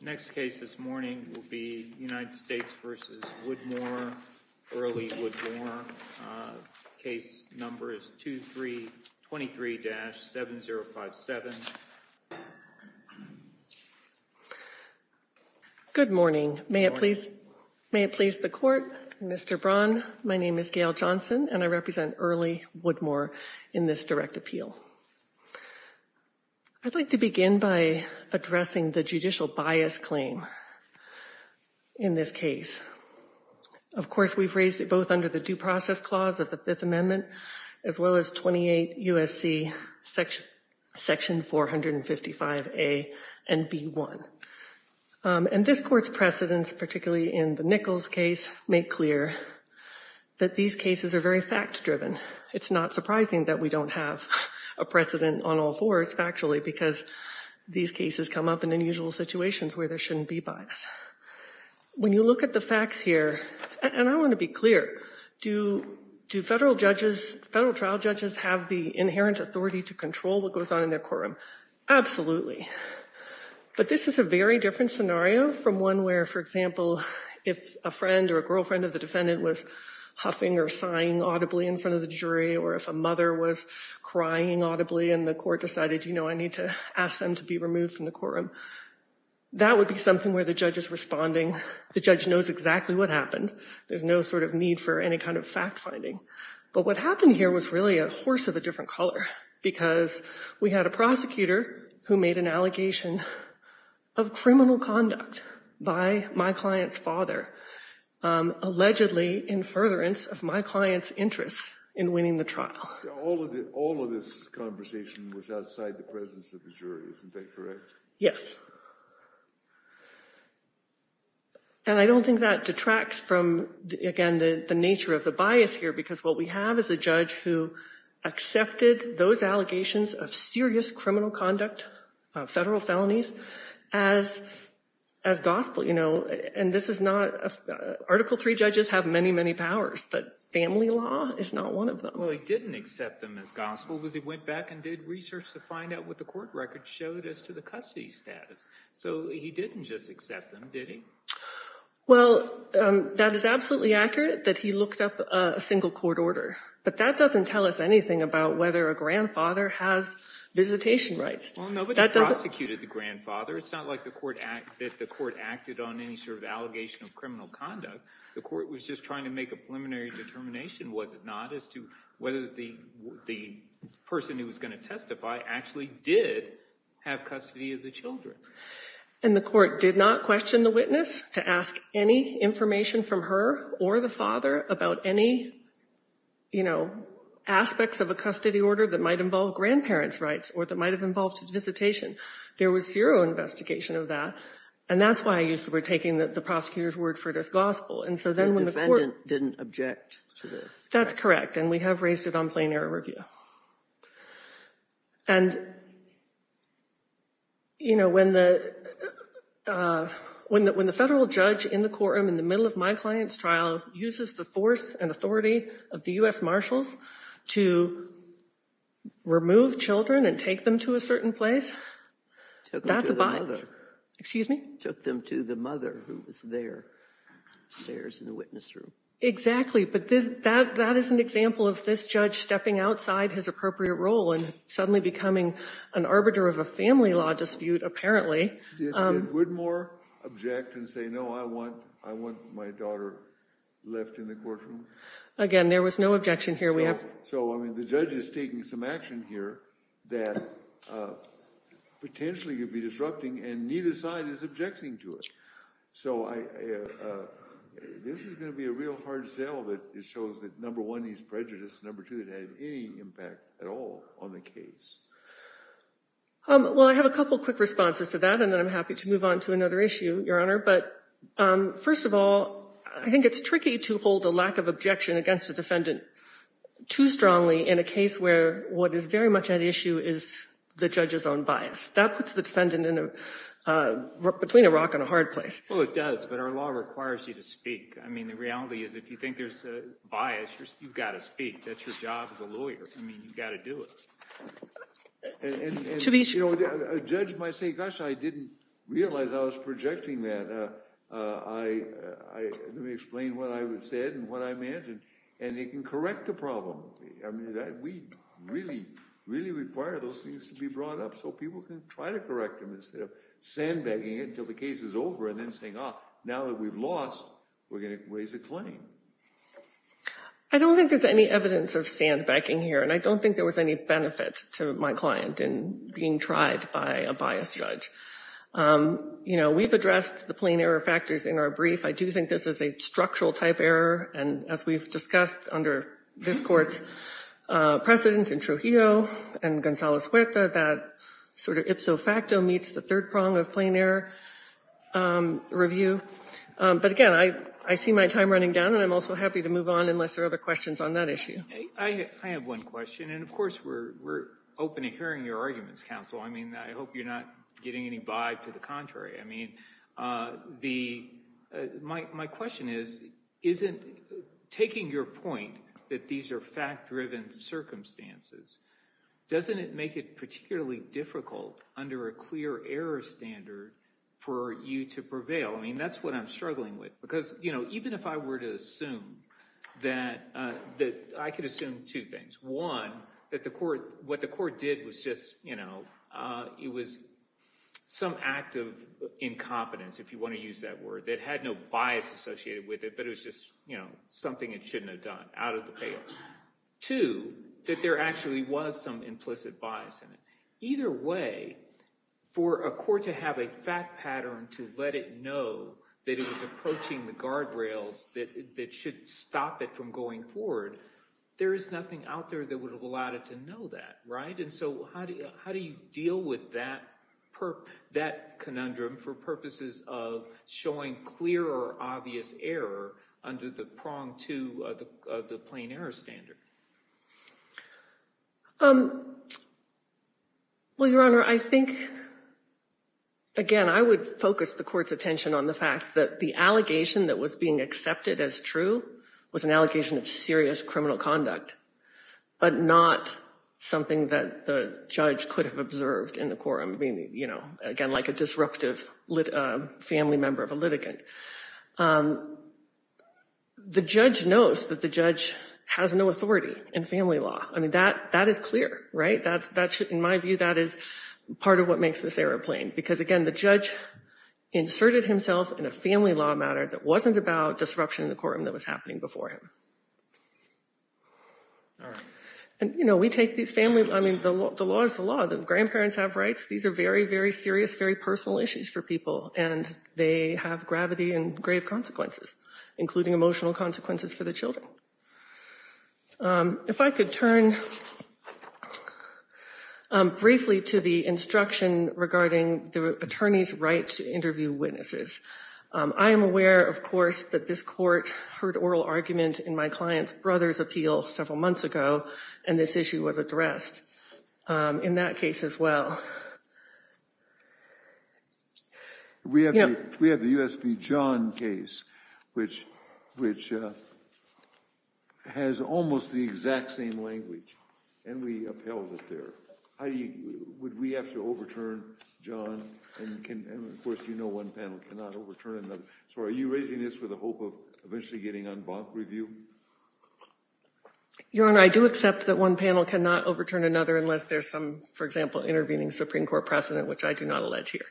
Next case this morning will be United States v. Woodmore, Early Woodmore. Case number is 2323-7057. Good morning. May it please the court. Mr. Braun, my name is Gail Johnson and I represent Early Woodmore in this direct appeal. I'd like to begin by addressing the judicial bias claim in this case. Of course, we've raised it both under the Due Process Clause of the Fifth Amendment as well as 28 U.S.C. Section 455A and B.1. And this court's precedents, particularly in the Nichols case, make clear that these cases are very fact-driven. It's not surprising that we don't have a precedent on all fours factually because these cases come up in unusual situations where there shouldn't be bias. When you look at the facts here, and I want to be clear, do federal judges, federal trial judges, have the inherent authority to control what goes on in their courtroom? Absolutely. But this is a very different scenario from one where, for example, if a friend or a girlfriend of the defendant was huffing or sighing audibly in front of the jury or if a mother was crying audibly and the court decided, you know, I need to ask them to be removed from the courtroom, that would be something where the judge is responding. The judge knows exactly what happened. There's no sort of need for any kind of fact-finding. But what happened here was really a horse of a different color because we had a prosecutor who made an allegation of criminal conduct by my client's father, allegedly in furtherance of my client's interest in winning the trial. All of this conversation was outside the presence of the jury. Isn't that correct? Yes. And I don't think that detracts from, again, the nature of the bias here because what we have is a judge who accepted those allegations of serious criminal conduct, federal felonies, as gospel. You know, and this is not—Article III judges have many, many powers, but family law is not one of them. Well, he didn't accept them as gospel because he went back and did research to find out what the court record showed as to the custody status. So he didn't just accept them, did he? Well, that is absolutely accurate that he looked up a single court order. But that doesn't tell us anything about whether a grandfather has visitation rights. Well, nobody prosecuted the grandfather. It's not like the court acted on any sort of allegation of criminal conduct. The court was just trying to make a preliminary determination, was it not, as to whether the person who was going to testify actually did have custody of the children. And the court did not question the witness to ask any information from her or the father about any, you know, aspects of a custody order that might involve grandparents' rights or that might have involved visitation. There was zero investigation of that. And that's why we're taking the prosecutor's word for it as gospel. The defendant didn't object to this. That's correct. And we have raised it on plain error review. And, you know, when the federal judge in the courtroom in the middle of my client's trial uses the force and authority of the U.S. Marshals to remove children and take them to a certain place, that's a bias. Took them to the mother. Excuse me? Took them to the mother who was there, upstairs in the witness room. Exactly. But that is an example of this judge stepping outside his appropriate role and suddenly becoming an arbiter of a family law dispute, apparently. Did Woodmore object and say, no, I want my daughter left in the courtroom? Again, there was no objection here. So, I mean, the judge is taking some action here that potentially could be disrupting, and neither side is objecting to it. So this is going to be a real hard sell that shows that, number one, he's prejudiced. Number two, it had any impact at all on the case. Well, I have a couple quick responses to that, and then I'm happy to move on to another issue, Your Honor. But first of all, I think it's tricky to hold a lack of objection against a defendant too strongly in a case where what is very much at issue is the judge's own bias. That puts the defendant between a rock and a hard place. Well, it does. But our law requires you to speak. I mean, the reality is if you think there's a bias, you've got to speak. That's your job as a lawyer. I mean, you've got to do it. And, you know, a judge might say, gosh, I didn't realize I was projecting that. Let me explain what I said and what I imagined. And they can correct the problem. I mean, we really, really require those things to be brought up so people can try to correct them instead of sandbagging it until the case is over and then saying, ah, now that we've lost, we're going to raise a claim. I don't think there's any evidence of sandbagging here. And I don't think there was any benefit to my client in being tried by a biased judge. You know, we've addressed the plain error factors in our brief. I do think this is a structural type error. And as we've discussed under this Court's precedent in Trujillo and Gonzalez Huerta, that sort of ipso facto meets the third prong of plain error review. But, again, I see my time running down, and I'm also happy to move on unless there are other questions on that issue. I have one question. And, of course, we're open to hearing your arguments, counsel. I mean, I hope you're not getting any vibe to the contrary. I mean, my question is, isn't taking your point that these are fact-driven circumstances, doesn't it make it particularly difficult under a clear error standard for you to prevail? I mean, that's what I'm struggling with. Because even if I were to assume that – I could assume two things. One, that what the court did was just – it was some act of incompetence, if you want to use that word, that had no bias associated with it, but it was just something it shouldn't have done out of the pale. Two, that there actually was some implicit bias in it. Either way, for a court to have a fact pattern to let it know that it was approaching the guardrails that should stop it from going forward, there is nothing out there that would have allowed it to know that, right? And so how do you deal with that conundrum for purposes of showing clear or obvious error under the prong to the plain error standard? Well, Your Honor, I think, again, I would focus the court's attention on the fact that the allegation that was being accepted as true was an allegation of serious criminal conduct, but not something that the judge could have observed in the quorum. I mean, you know, again, like a disruptive family member of a litigant. The judge knows that the judge has no authority in family law. I mean, that is clear, right? In my view, that is part of what makes this error plain because, again, the judge inserted himself in a family law matter that wasn't about disruption in the quorum that was happening before him. All right. And, you know, we take these family, I mean, the law is the law. The grandparents have rights. These are very, very serious, very personal issues for people, and they have gravity and grave consequences, including emotional consequences for the children. If I could turn briefly to the instruction regarding the attorney's right to interview witnesses. I am aware, of course, that this court heard oral argument in my client's brother's appeal several months ago, and this issue was addressed in that case as well. We have the U.S. v. John case, which has almost the exact same language, and we upheld it there. Heidi, would we have to overturn John? And, of course, you know one panel cannot overturn another. So are you raising this with the hope of eventually getting en banc review? Your Honor, I do accept that one panel cannot overturn another unless there's some, for example, intervening Supreme Court precedent, which I do not allege here.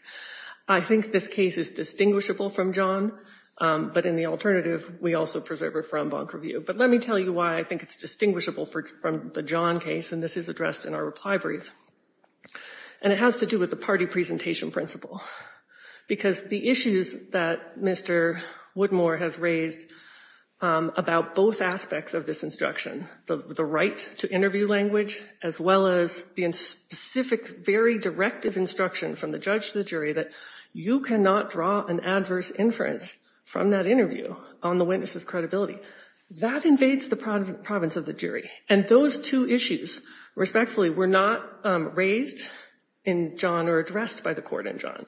I think this case is distinguishable from John, but in the alternative, we also preserve it for en banc review. But let me tell you why I think it's distinguishable from the John case, and this is addressed in our reply brief. And it has to do with the party presentation principle, because the issues that Mr. Woodmore has raised about both aspects of this instruction, the right to interview language as well as the specific, very directive instruction from the judge to the jury, that you cannot draw an adverse inference from that interview on the witness's credibility. That invades the province of the jury. And those two issues, respectfully, were not raised in John or addressed by the court in John.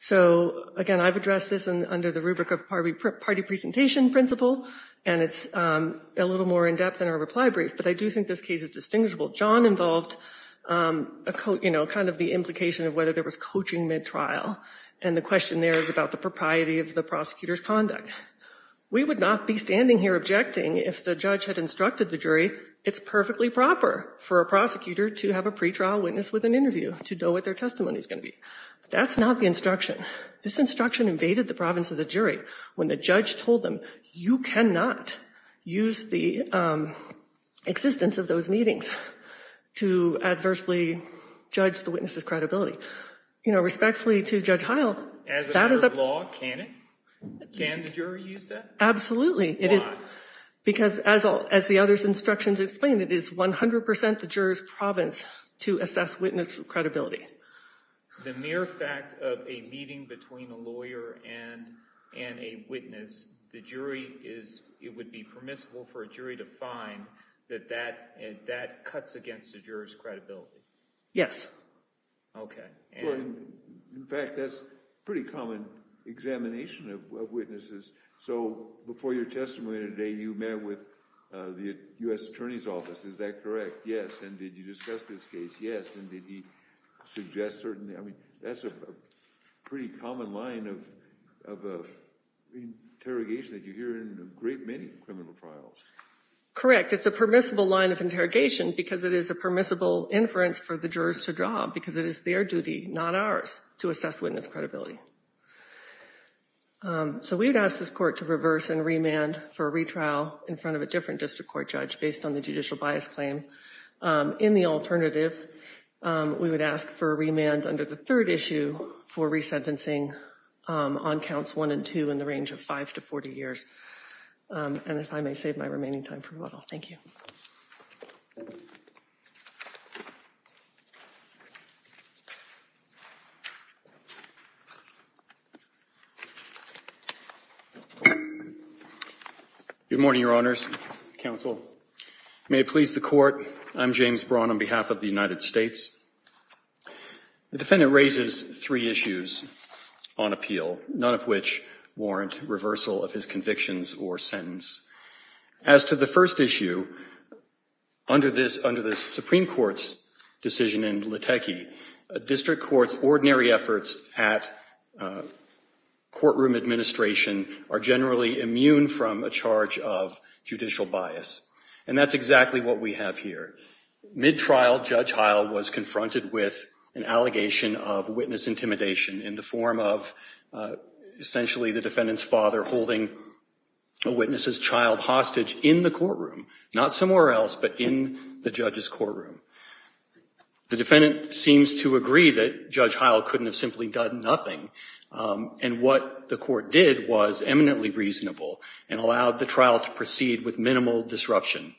So, again, I've addressed this under the rubric of party presentation principle, and it's a little more in-depth in our reply brief, but I do think this case is distinguishable. John involved, you know, kind of the implication of whether there was coaching mid-trial, and the question there is about the propriety of the prosecutor's conduct. We would not be standing here objecting if the judge had instructed the jury, it's perfectly proper for a prosecutor to have a pretrial witness with an interview to know what their testimony is going to be. That's not the instruction. This instruction invaded the province of the jury when the judge told them, you cannot use the existence of those meetings to adversely judge the witness's credibility. You know, respectfully to Judge Heil, that is a— Can it? Can the jury use that? Absolutely. Why? Because, as the other instructions explain, it is 100 percent the juror's province to assess witness credibility. The mere fact of a meeting between a lawyer and a witness, the jury is—it would be permissible for a jury to find that that cuts against the juror's credibility. Yes. Okay. In fact, that's a pretty common examination of witnesses. So, before your testimony today, you met with the U.S. Attorney's Office, is that correct? Yes. And did you discuss this case? Yes. And did he suggest certain—I mean, that's a pretty common line of interrogation that you hear in a great many criminal trials. Correct. In fact, it's a permissible line of interrogation because it is a permissible inference for the jurors to draw, because it is their duty, not ours, to assess witness credibility. So, we would ask this court to reverse and remand for a retrial in front of a different district court judge based on the judicial bias claim. In the alternative, we would ask for a remand under the third issue for resentencing on counts 1 and 2 in the range of 5 to 40 years. And if I may save my remaining time for a little. Thank you. Good morning, Your Honors. Counsel. May it please the Court, I'm James Braun on behalf of the United States. The defendant raises three issues on appeal, none of which warrant reversal of his convictions or sentence. As to the first issue, under the Supreme Court's decision in Lateke, district courts' ordinary efforts at courtroom administration are generally immune from a charge of judicial bias. And that's exactly what we have here. Mid-trial, Judge Heil was confronted with an allegation of witness intimidation in the form of essentially the defendant's father holding a witness's child hostage in the courtroom. Not somewhere else, but in the judge's courtroom. The defendant seems to agree that Judge Heil couldn't have simply done nothing. And what the court did was eminently reasonable and allowed the trial to proceed with minimal disruption.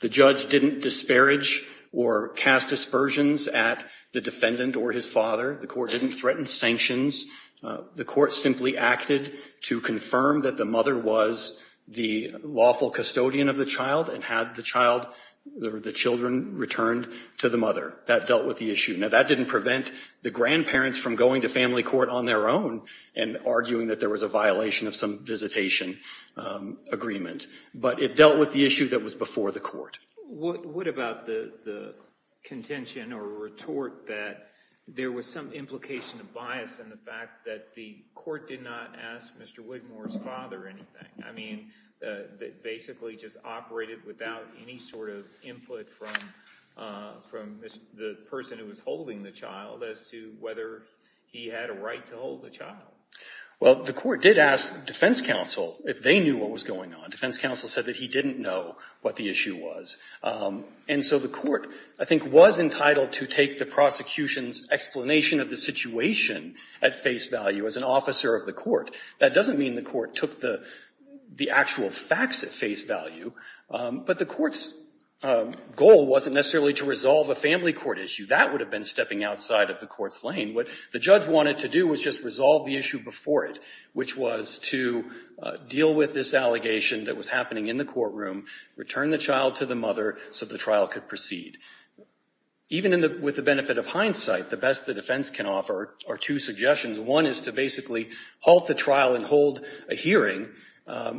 The judge didn't disparage or cast dispersions at the defendant or his father. The court didn't threaten sanctions. The court simply acted to confirm that the mother was the lawful custodian of the child and had the child, the children, returned to the mother. That dealt with the issue. Now, that didn't prevent the grandparents from going to family court on their own and arguing that there was a violation of some visitation agreement. But it dealt with the issue that was before the court. What about the contention or retort that there was some implication of bias in the fact that the court did not ask Mr. Widmore's father anything? I mean, it basically just operated without any sort of input from the person who was holding the child as to whether he had a right to hold the child. Well, the court did ask defense counsel if they knew what was going on. Defense counsel said that he didn't know what the issue was. And so the court, I think, was entitled to take the prosecution's explanation of the situation at face value as an officer of the court. That doesn't mean the court took the actual facts at face value. But the court's goal wasn't necessarily to resolve a family court issue. That would have been stepping outside of the court's lane. What the judge wanted to do was just resolve the issue before it, which was to deal with this allegation that was happening in the courtroom, return the child to the mother so the trial could proceed. Even with the benefit of hindsight, the best the defense can offer are two suggestions. One is to basically halt the trial and hold a hearing,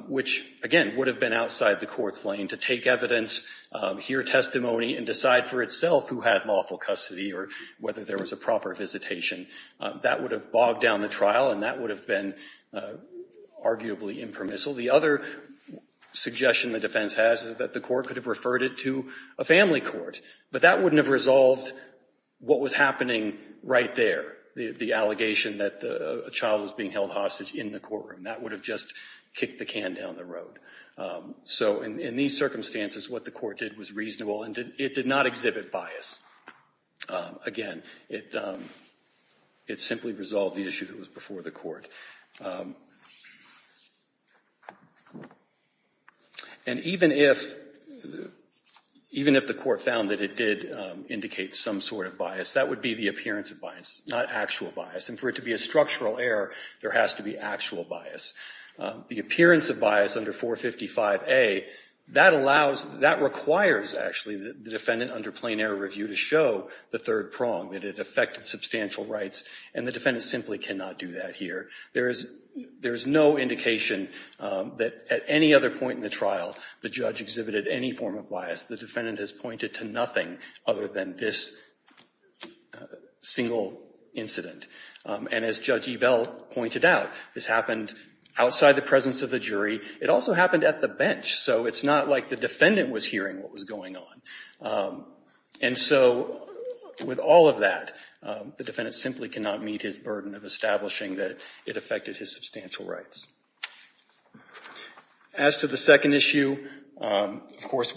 which, again, would have been outside the court's lane, to take evidence, hear testimony, and decide for itself who had lawful custody or whether there was a proper visitation. That would have bogged down the trial, and that would have been arguably impermissible. The other suggestion the defense has is that the court could have referred it to a family court. But that wouldn't have resolved what was happening right there, the allegation that a child was being held hostage in the courtroom. That would have just kicked the can down the road. So in these circumstances, what the court did was reasonable, and it did not exhibit bias. Again, it simply resolved the issue that was before the court. And even if the court found that it did indicate some sort of bias, that would be the appearance of bias, not actual bias. And for it to be a structural error, there has to be actual bias. The appearance of bias under 455A, that requires, actually, the defendant under plain error review to show the third prong, that it affected substantial rights, and the defendant simply cannot do that here. There is no indication that at any other point in the trial the judge exhibited any form of bias. The defendant has pointed to nothing other than this single incident. And as Judge Ebell pointed out, this happened outside the presence of the jury. It also happened at the bench. So it's not like the defendant was hearing what was going on. And so with all of that, the defendant simply cannot meet his burden of establishing that it affected his substantial rights. As to the second issue, of course,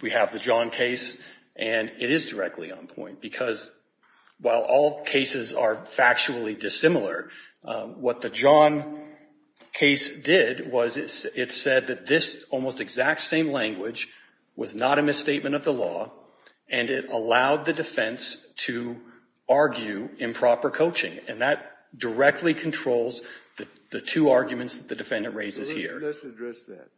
we have the John case, and it is directly on point. Because while all cases are factually dissimilar, what the John case did was it said that this almost exact same language was not a misstatement of the law, and it allowed the defense to argue improper coaching. And that directly controls the two arguments that the defendant raises here. Let's address that.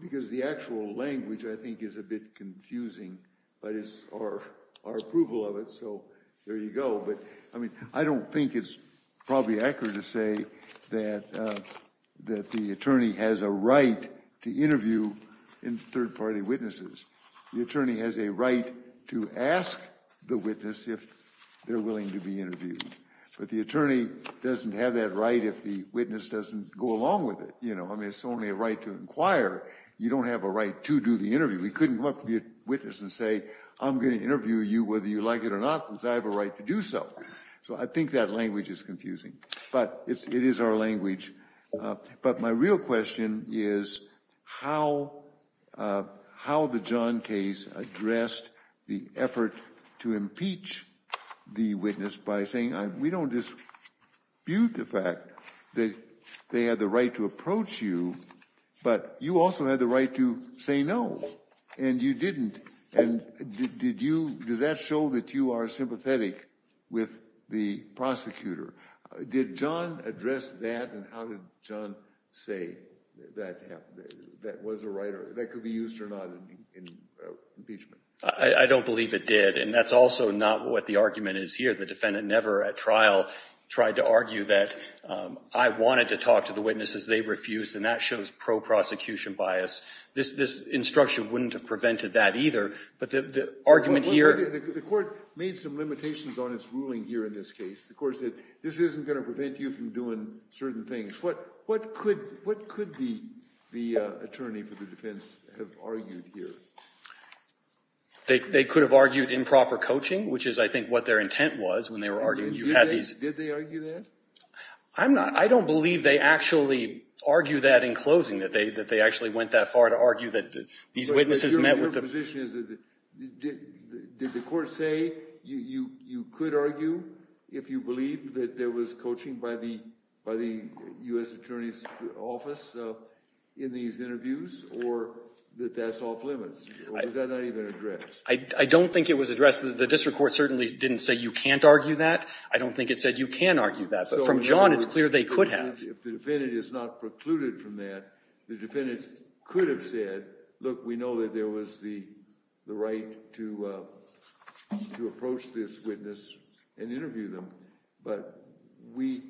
Because the actual language, I think, is a bit confusing. But it's our approval of it, so there you go. But, I mean, I don't think it's probably accurate to say that the attorney has a right to interview third-party witnesses. The attorney has a right to ask the witness if they're willing to be interviewed. But the attorney doesn't have that right if the witness doesn't go along with it. I mean, it's only a right to inquire. You don't have a right to do the interview. We couldn't come up to the witness and say, I'm going to interview you whether you like it or not because I have a right to do so. So I think that language is confusing. But it is our language. But my real question is how the John case addressed the effort to impeach the witness by saying, we don't dispute the fact that they had the right to approach you, but you also had the right to say no, and you didn't. And did that show that you are sympathetic with the prosecutor? Did John address that? And how did John say that was a right that could be used or not in impeachment? I don't believe it did. And that's also not what the argument is here. The defendant never at trial tried to argue that I wanted to talk to the witnesses. They refused. And that shows pro-prosecution bias. This instruction wouldn't have prevented that either. But the argument here – The court made some limitations on its ruling here in this case. The court said, this isn't going to prevent you from doing certain things. What could the attorney for the defense have argued here? They could have argued improper coaching, which is, I think, what their intent was when they were arguing. Did they argue that? I don't believe they actually argued that in closing, that they actually went that far to argue that these witnesses met with the – My question is, did the court say you could argue if you believe that there was coaching by the U.S. attorney's office in these interviews, or that that's off limits? Or was that not even addressed? I don't think it was addressed. The district court certainly didn't say you can't argue that. I don't think it said you can argue that. But from John, it's clear they could have. If the defendant is not precluded from that, the defendant could have said, look, we know that there was the right to approach this witness and interview them. But we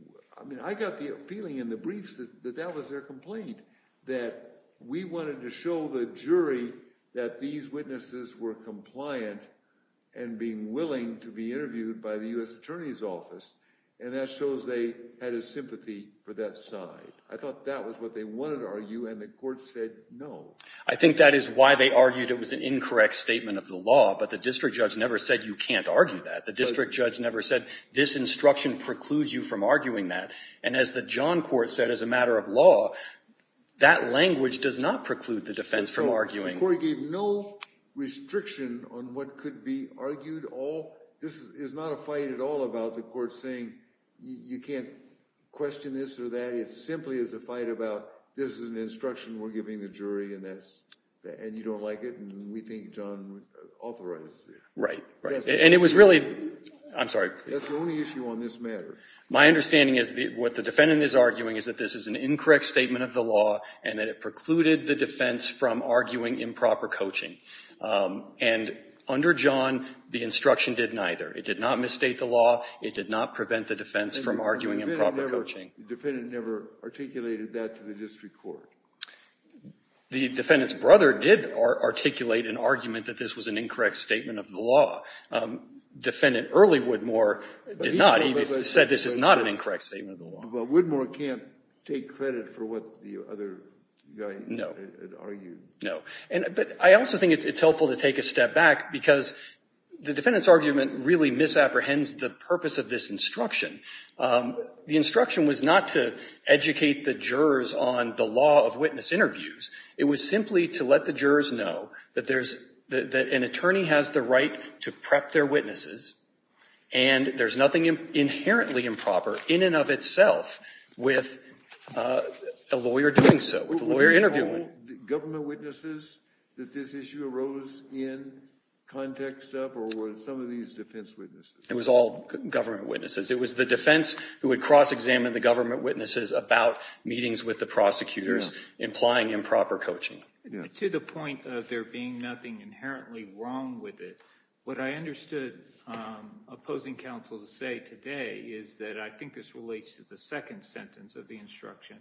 – I mean, I got the feeling in the briefs that that was their complaint, that we wanted to show the jury that these witnesses were compliant and being willing to be interviewed by the U.S. attorney's office. And that shows they had a sympathy for that side. I thought that was what they wanted to argue, and the court said no. I think that is why they argued it was an incorrect statement of the law. But the district judge never said you can't argue that. The district judge never said this instruction precludes you from arguing that. And as the John court said as a matter of law, that language does not preclude the defense from arguing. The court gave no restriction on what could be argued. This is not a fight at all about the court saying you can't question this or that. It simply is a fight about this is an instruction we're giving the jury, and you don't like it, and we think John authorized it. Right, right. And it was really – I'm sorry. That's the only issue on this matter. My understanding is what the defendant is arguing is that this is an incorrect statement of the law and that it precluded the defense from arguing improper coaching. And under John, the instruction did neither. It did not misstate the law. It did not prevent the defense from arguing improper coaching. The defendant never articulated that to the district court. The defendant's brother did articulate an argument that this was an incorrect statement of the law. Defendant Early Woodmore did not. He said this is not an incorrect statement of the law. But Woodmore can't take credit for what the other guy argued. No. But I also think it's helpful to take a step back, because the defendant's argument really misapprehends the purpose of this instruction. The instruction was not to educate the jurors on the law of witness interviews. It was simply to let the jurors know that there's – that an attorney has the right to prep their witnesses, and there's nothing inherently improper in and of itself with a lawyer doing so, with a lawyer interviewing. Were all government witnesses that this issue arose in context of, or were some of these defense witnesses? It was all government witnesses. It was the defense who would cross-examine the government witnesses about meetings with the prosecutors implying improper coaching. To the point of there being nothing inherently wrong with it, what I understood opposing counsel to say today is that I think this relates to the second sentence of the instruction,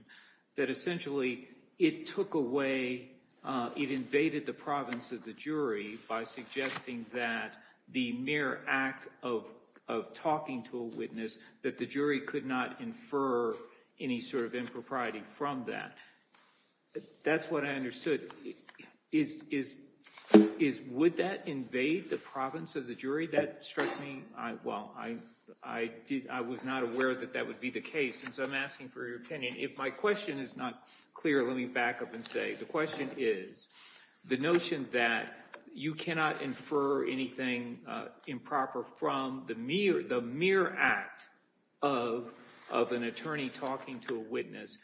that essentially it took away – it invaded the province of the jury by suggesting that the mere act of talking to a witness, that the jury could not infer any sort of impropriety from that. That's what I understood. Is – would that invade the province of the jury? That struck me – well, I did – I was not aware that that would be the case, so I'm asking for your opinion. If my question is not clear, let me back up and say, the question is, the notion that you cannot infer anything improper from the mere act of an attorney talking to a witness,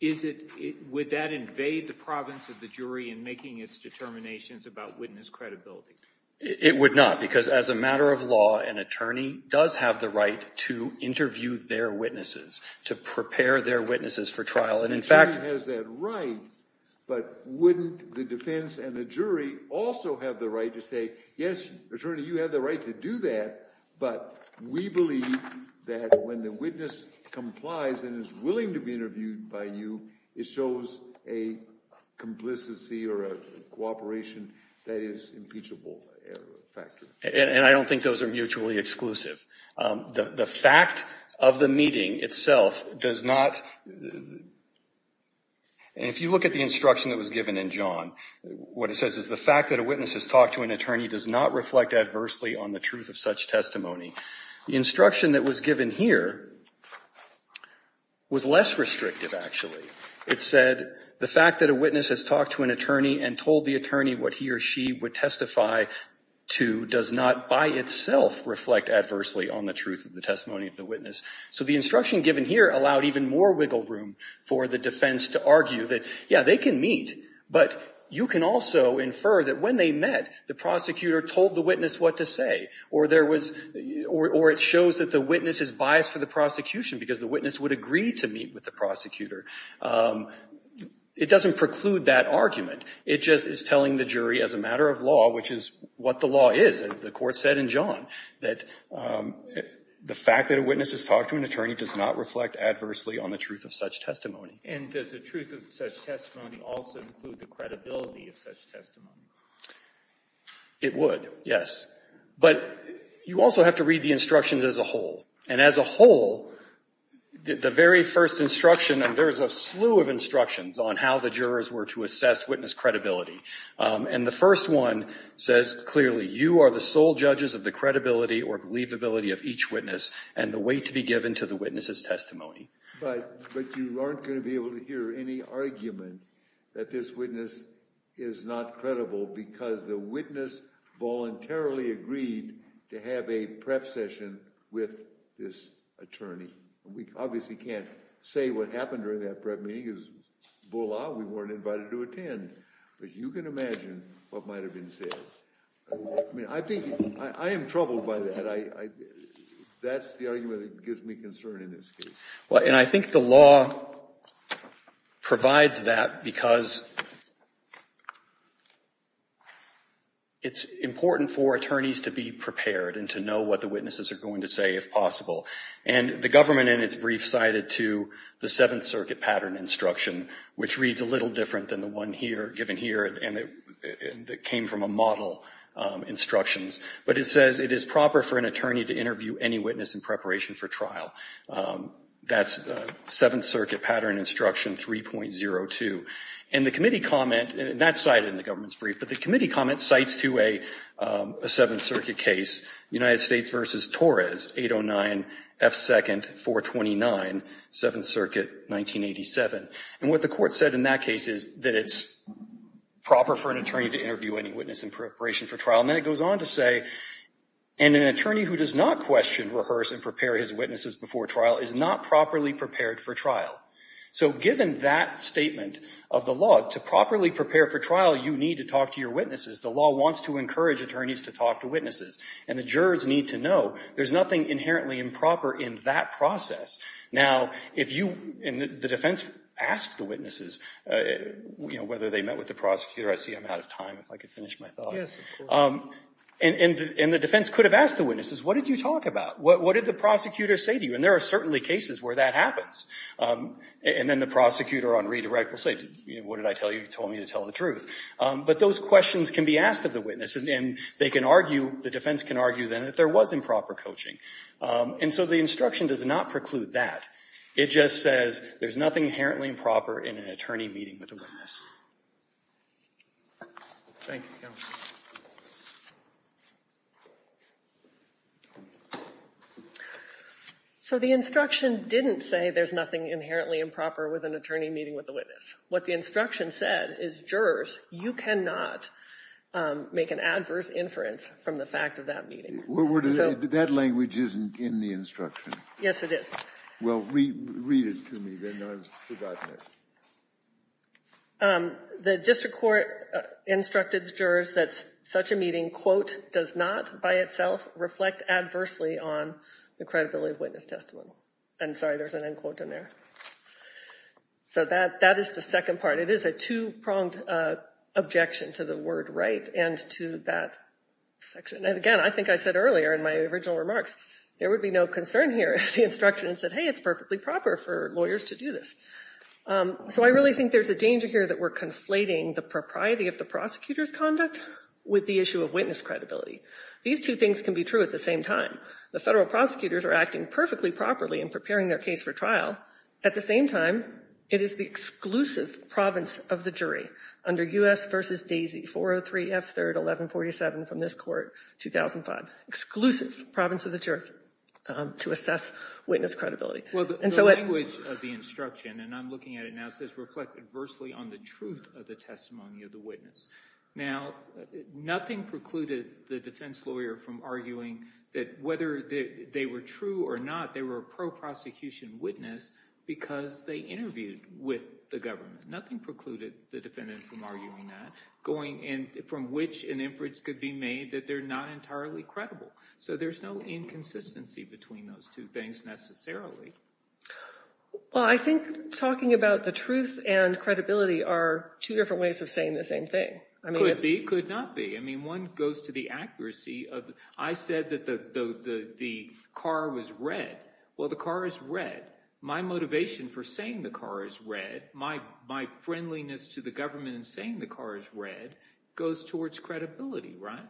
is it – would that invade the province of the jury in making its determinations about witness credibility? It would not, because as a matter of law, an attorney does have the right to interview their witnesses, to prepare their witnesses for trial. And in fact – An attorney has that right, but wouldn't the defense and the jury also have the right to say, yes, attorney, you have the right to do that, but we believe that when the witness complies and is willing to be interviewed by you, it shows a complicity or a cooperation that is impeachable. And I don't think those are mutually exclusive. The fact of the meeting itself does not – and if you look at the instruction that was given in John, what it says is, the fact that a witness has talked to an attorney does not reflect adversely on the truth of such testimony. The instruction that was given here was less restrictive, actually. It said, the fact that a witness has talked to an attorney and told the attorney what he or she would testify to does not by itself reflect adversely on the truth of the testimony of the witness. So the instruction given here allowed even more wiggle room for the defense to argue that, yeah, they can meet, but you can also infer that when they met, the prosecutor told the witness what to say, or it shows that the witness is biased for the prosecution because the witness would agree to meet with the prosecutor. It doesn't preclude that argument. It just is telling the jury as a matter of law, which is what the law is, as the Court said in John, that the fact that a witness has talked to an attorney does not reflect adversely on the truth of such testimony. And does the truth of such testimony also include the credibility of such testimony? It would, yes. But you also have to read the instructions as a whole. And as a whole, the very first instruction, and there's a slew of instructions on how the jurors were to assess witness credibility. And the first one says clearly, you are the sole judges of the credibility or believability of each witness and the weight to be given to the witness's testimony. But you aren't going to be able to hear any argument that this witness is not credible because the witness voluntarily agreed to have a prep session with this attorney. We obviously can't say what happened during that prep meeting because, voila, we weren't invited to attend. But you can imagine what might have been said. I mean, I think I am troubled by that. That's the argument that gives me concern in this case. Well, and I think the law provides that because it's important for attorneys to be prepared and to know what the witnesses are going to say if possible. And the government in its brief cited to the Seventh Circuit pattern instruction, which reads a little different than the one given here and that came from a model instructions. But it says it is proper for an attorney to interview any witness in preparation for trial. That's Seventh Circuit pattern instruction 3.02. And the committee comment, and that's cited in the government's brief, but the committee comment cites to a Seventh Circuit case, United States v. Torres, 809 F. 2nd, 429, Seventh Circuit, 1987. And what the court said in that case is that it's proper for an attorney to interview any witness in preparation for trial. And then it goes on to say, and an attorney who does not question, rehearse, and prepare his witnesses before trial is not properly prepared for trial. So given that statement of the law, to properly prepare for trial, you need to talk to your witnesses. The law wants to encourage attorneys to talk to witnesses. And the jurors need to know there's nothing inherently improper in that process. Now, if you, and the defense asked the witnesses, you know, whether they met with the prosecutor. I see I'm out of time. If I could finish my thought. And the defense could have asked the witnesses, what did you talk about? What did the prosecutor say to you? And there are certainly cases where that happens. And then the prosecutor on redirect will say, what did I tell you? You told me to tell the truth. But those questions can be asked of the witness. And they can argue, the defense can argue then that there was improper coaching. And so the instruction does not preclude that. It just says there's nothing inherently improper in an attorney meeting with a witness. Thank you, counsel. So the instruction didn't say there's nothing inherently improper with an attorney meeting with a witness. What the instruction said is, jurors, you cannot make an adverse inference from the fact of that meeting. That language isn't in the instruction. Yes, it is. Well, read it to me then. I've forgotten it. The district court instructed jurors that such a meeting, quote, does not by itself reflect adversely on the credibility of witness testimony. I'm sorry, there's an end quote in there. So that is the second part. It is a two-pronged objection to the word right and to that section. And again, I think I said earlier in my original remarks, there would be no concern here if the instruction said, hey, it's perfectly proper for lawyers to do this. So I really think there's a danger here that we're conflating the propriety of the prosecutor's conduct with the issue of witness credibility. These two things can be true at the same time. The federal prosecutors are acting perfectly properly in preparing their case for trial. At the same time, it is the exclusive province of the jury under U.S. v. Daisy, 403 F. 3rd, 1147 from this court, 2005. Exclusive province of the jury to assess witness credibility. Well, the language of the instruction, and I'm looking at it now, says reflect adversely on the truth of the testimony of the witness. Now, nothing precluded the defense lawyer from arguing that whether they were true or not, they were a pro-prosecution witness because they interviewed with the government. Nothing precluded the defendant from arguing that, from which an inference could be made that they're not entirely credible. So there's no inconsistency between those two things necessarily. Well, I think talking about the truth and credibility are two different ways of saying the same thing. Could be, could not be. I mean, one goes to the accuracy. I said that the car was red. Well, the car is red. My motivation for saying the car is red, my friendliness to the government in saying the car is red, goes towards credibility, right?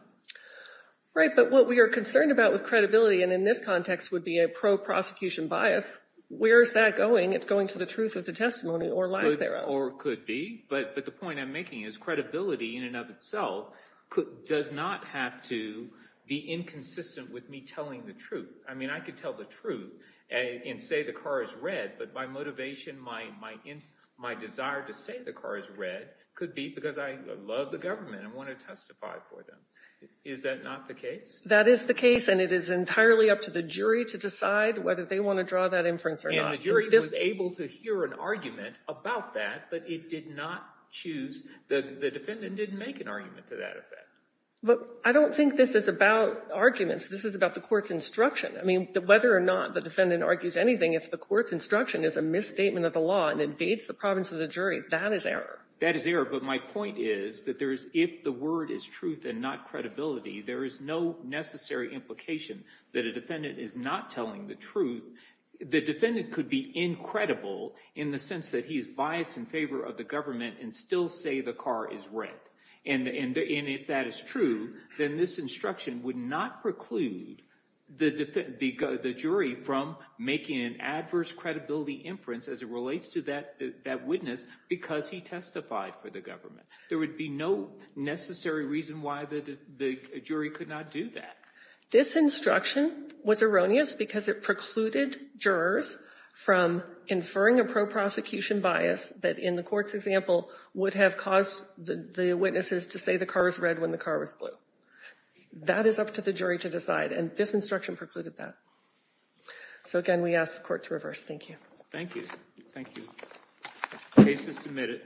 Right, but what we are concerned about with credibility, and in this context would be a pro-prosecution bias, where is that going? It's going to the truth of the testimony or lack thereof. Or could be. But the point I'm making is credibility in and of itself does not have to be inconsistent with me telling the truth. I mean, I could tell the truth and say the car is red, but my motivation, my desire to say the car is red could be because I love the government and want to testify for them. Is that not the case? That is the case, and it is entirely up to the jury to decide whether they want to draw that inference or not. The jury was able to hear an argument about that, but it did not choose. The defendant didn't make an argument to that effect. But I don't think this is about arguments. This is about the court's instruction. I mean, whether or not the defendant argues anything, if the court's instruction is a misstatement of the law and invades the province of the jury, that is error. That is error, but my point is that if the word is truth and not credibility, there is no necessary implication that a defendant is not telling the truth. The defendant could be incredible in the sense that he is biased in favor of the government and still say the car is red. And if that is true, then this instruction would not preclude the jury from making an adverse credibility inference as it relates to that witness because he testified for the government. There would be no necessary reason why the jury could not do that. This instruction was erroneous because it precluded jurors from inferring a pro-prosecution bias that in the court's example would have caused the witnesses to say the car was red when the car was blue. That is up to the jury to decide, and this instruction precluded that. So, again, we ask the court to reverse. Thank you. Thank you. Thank you. The case is submitted.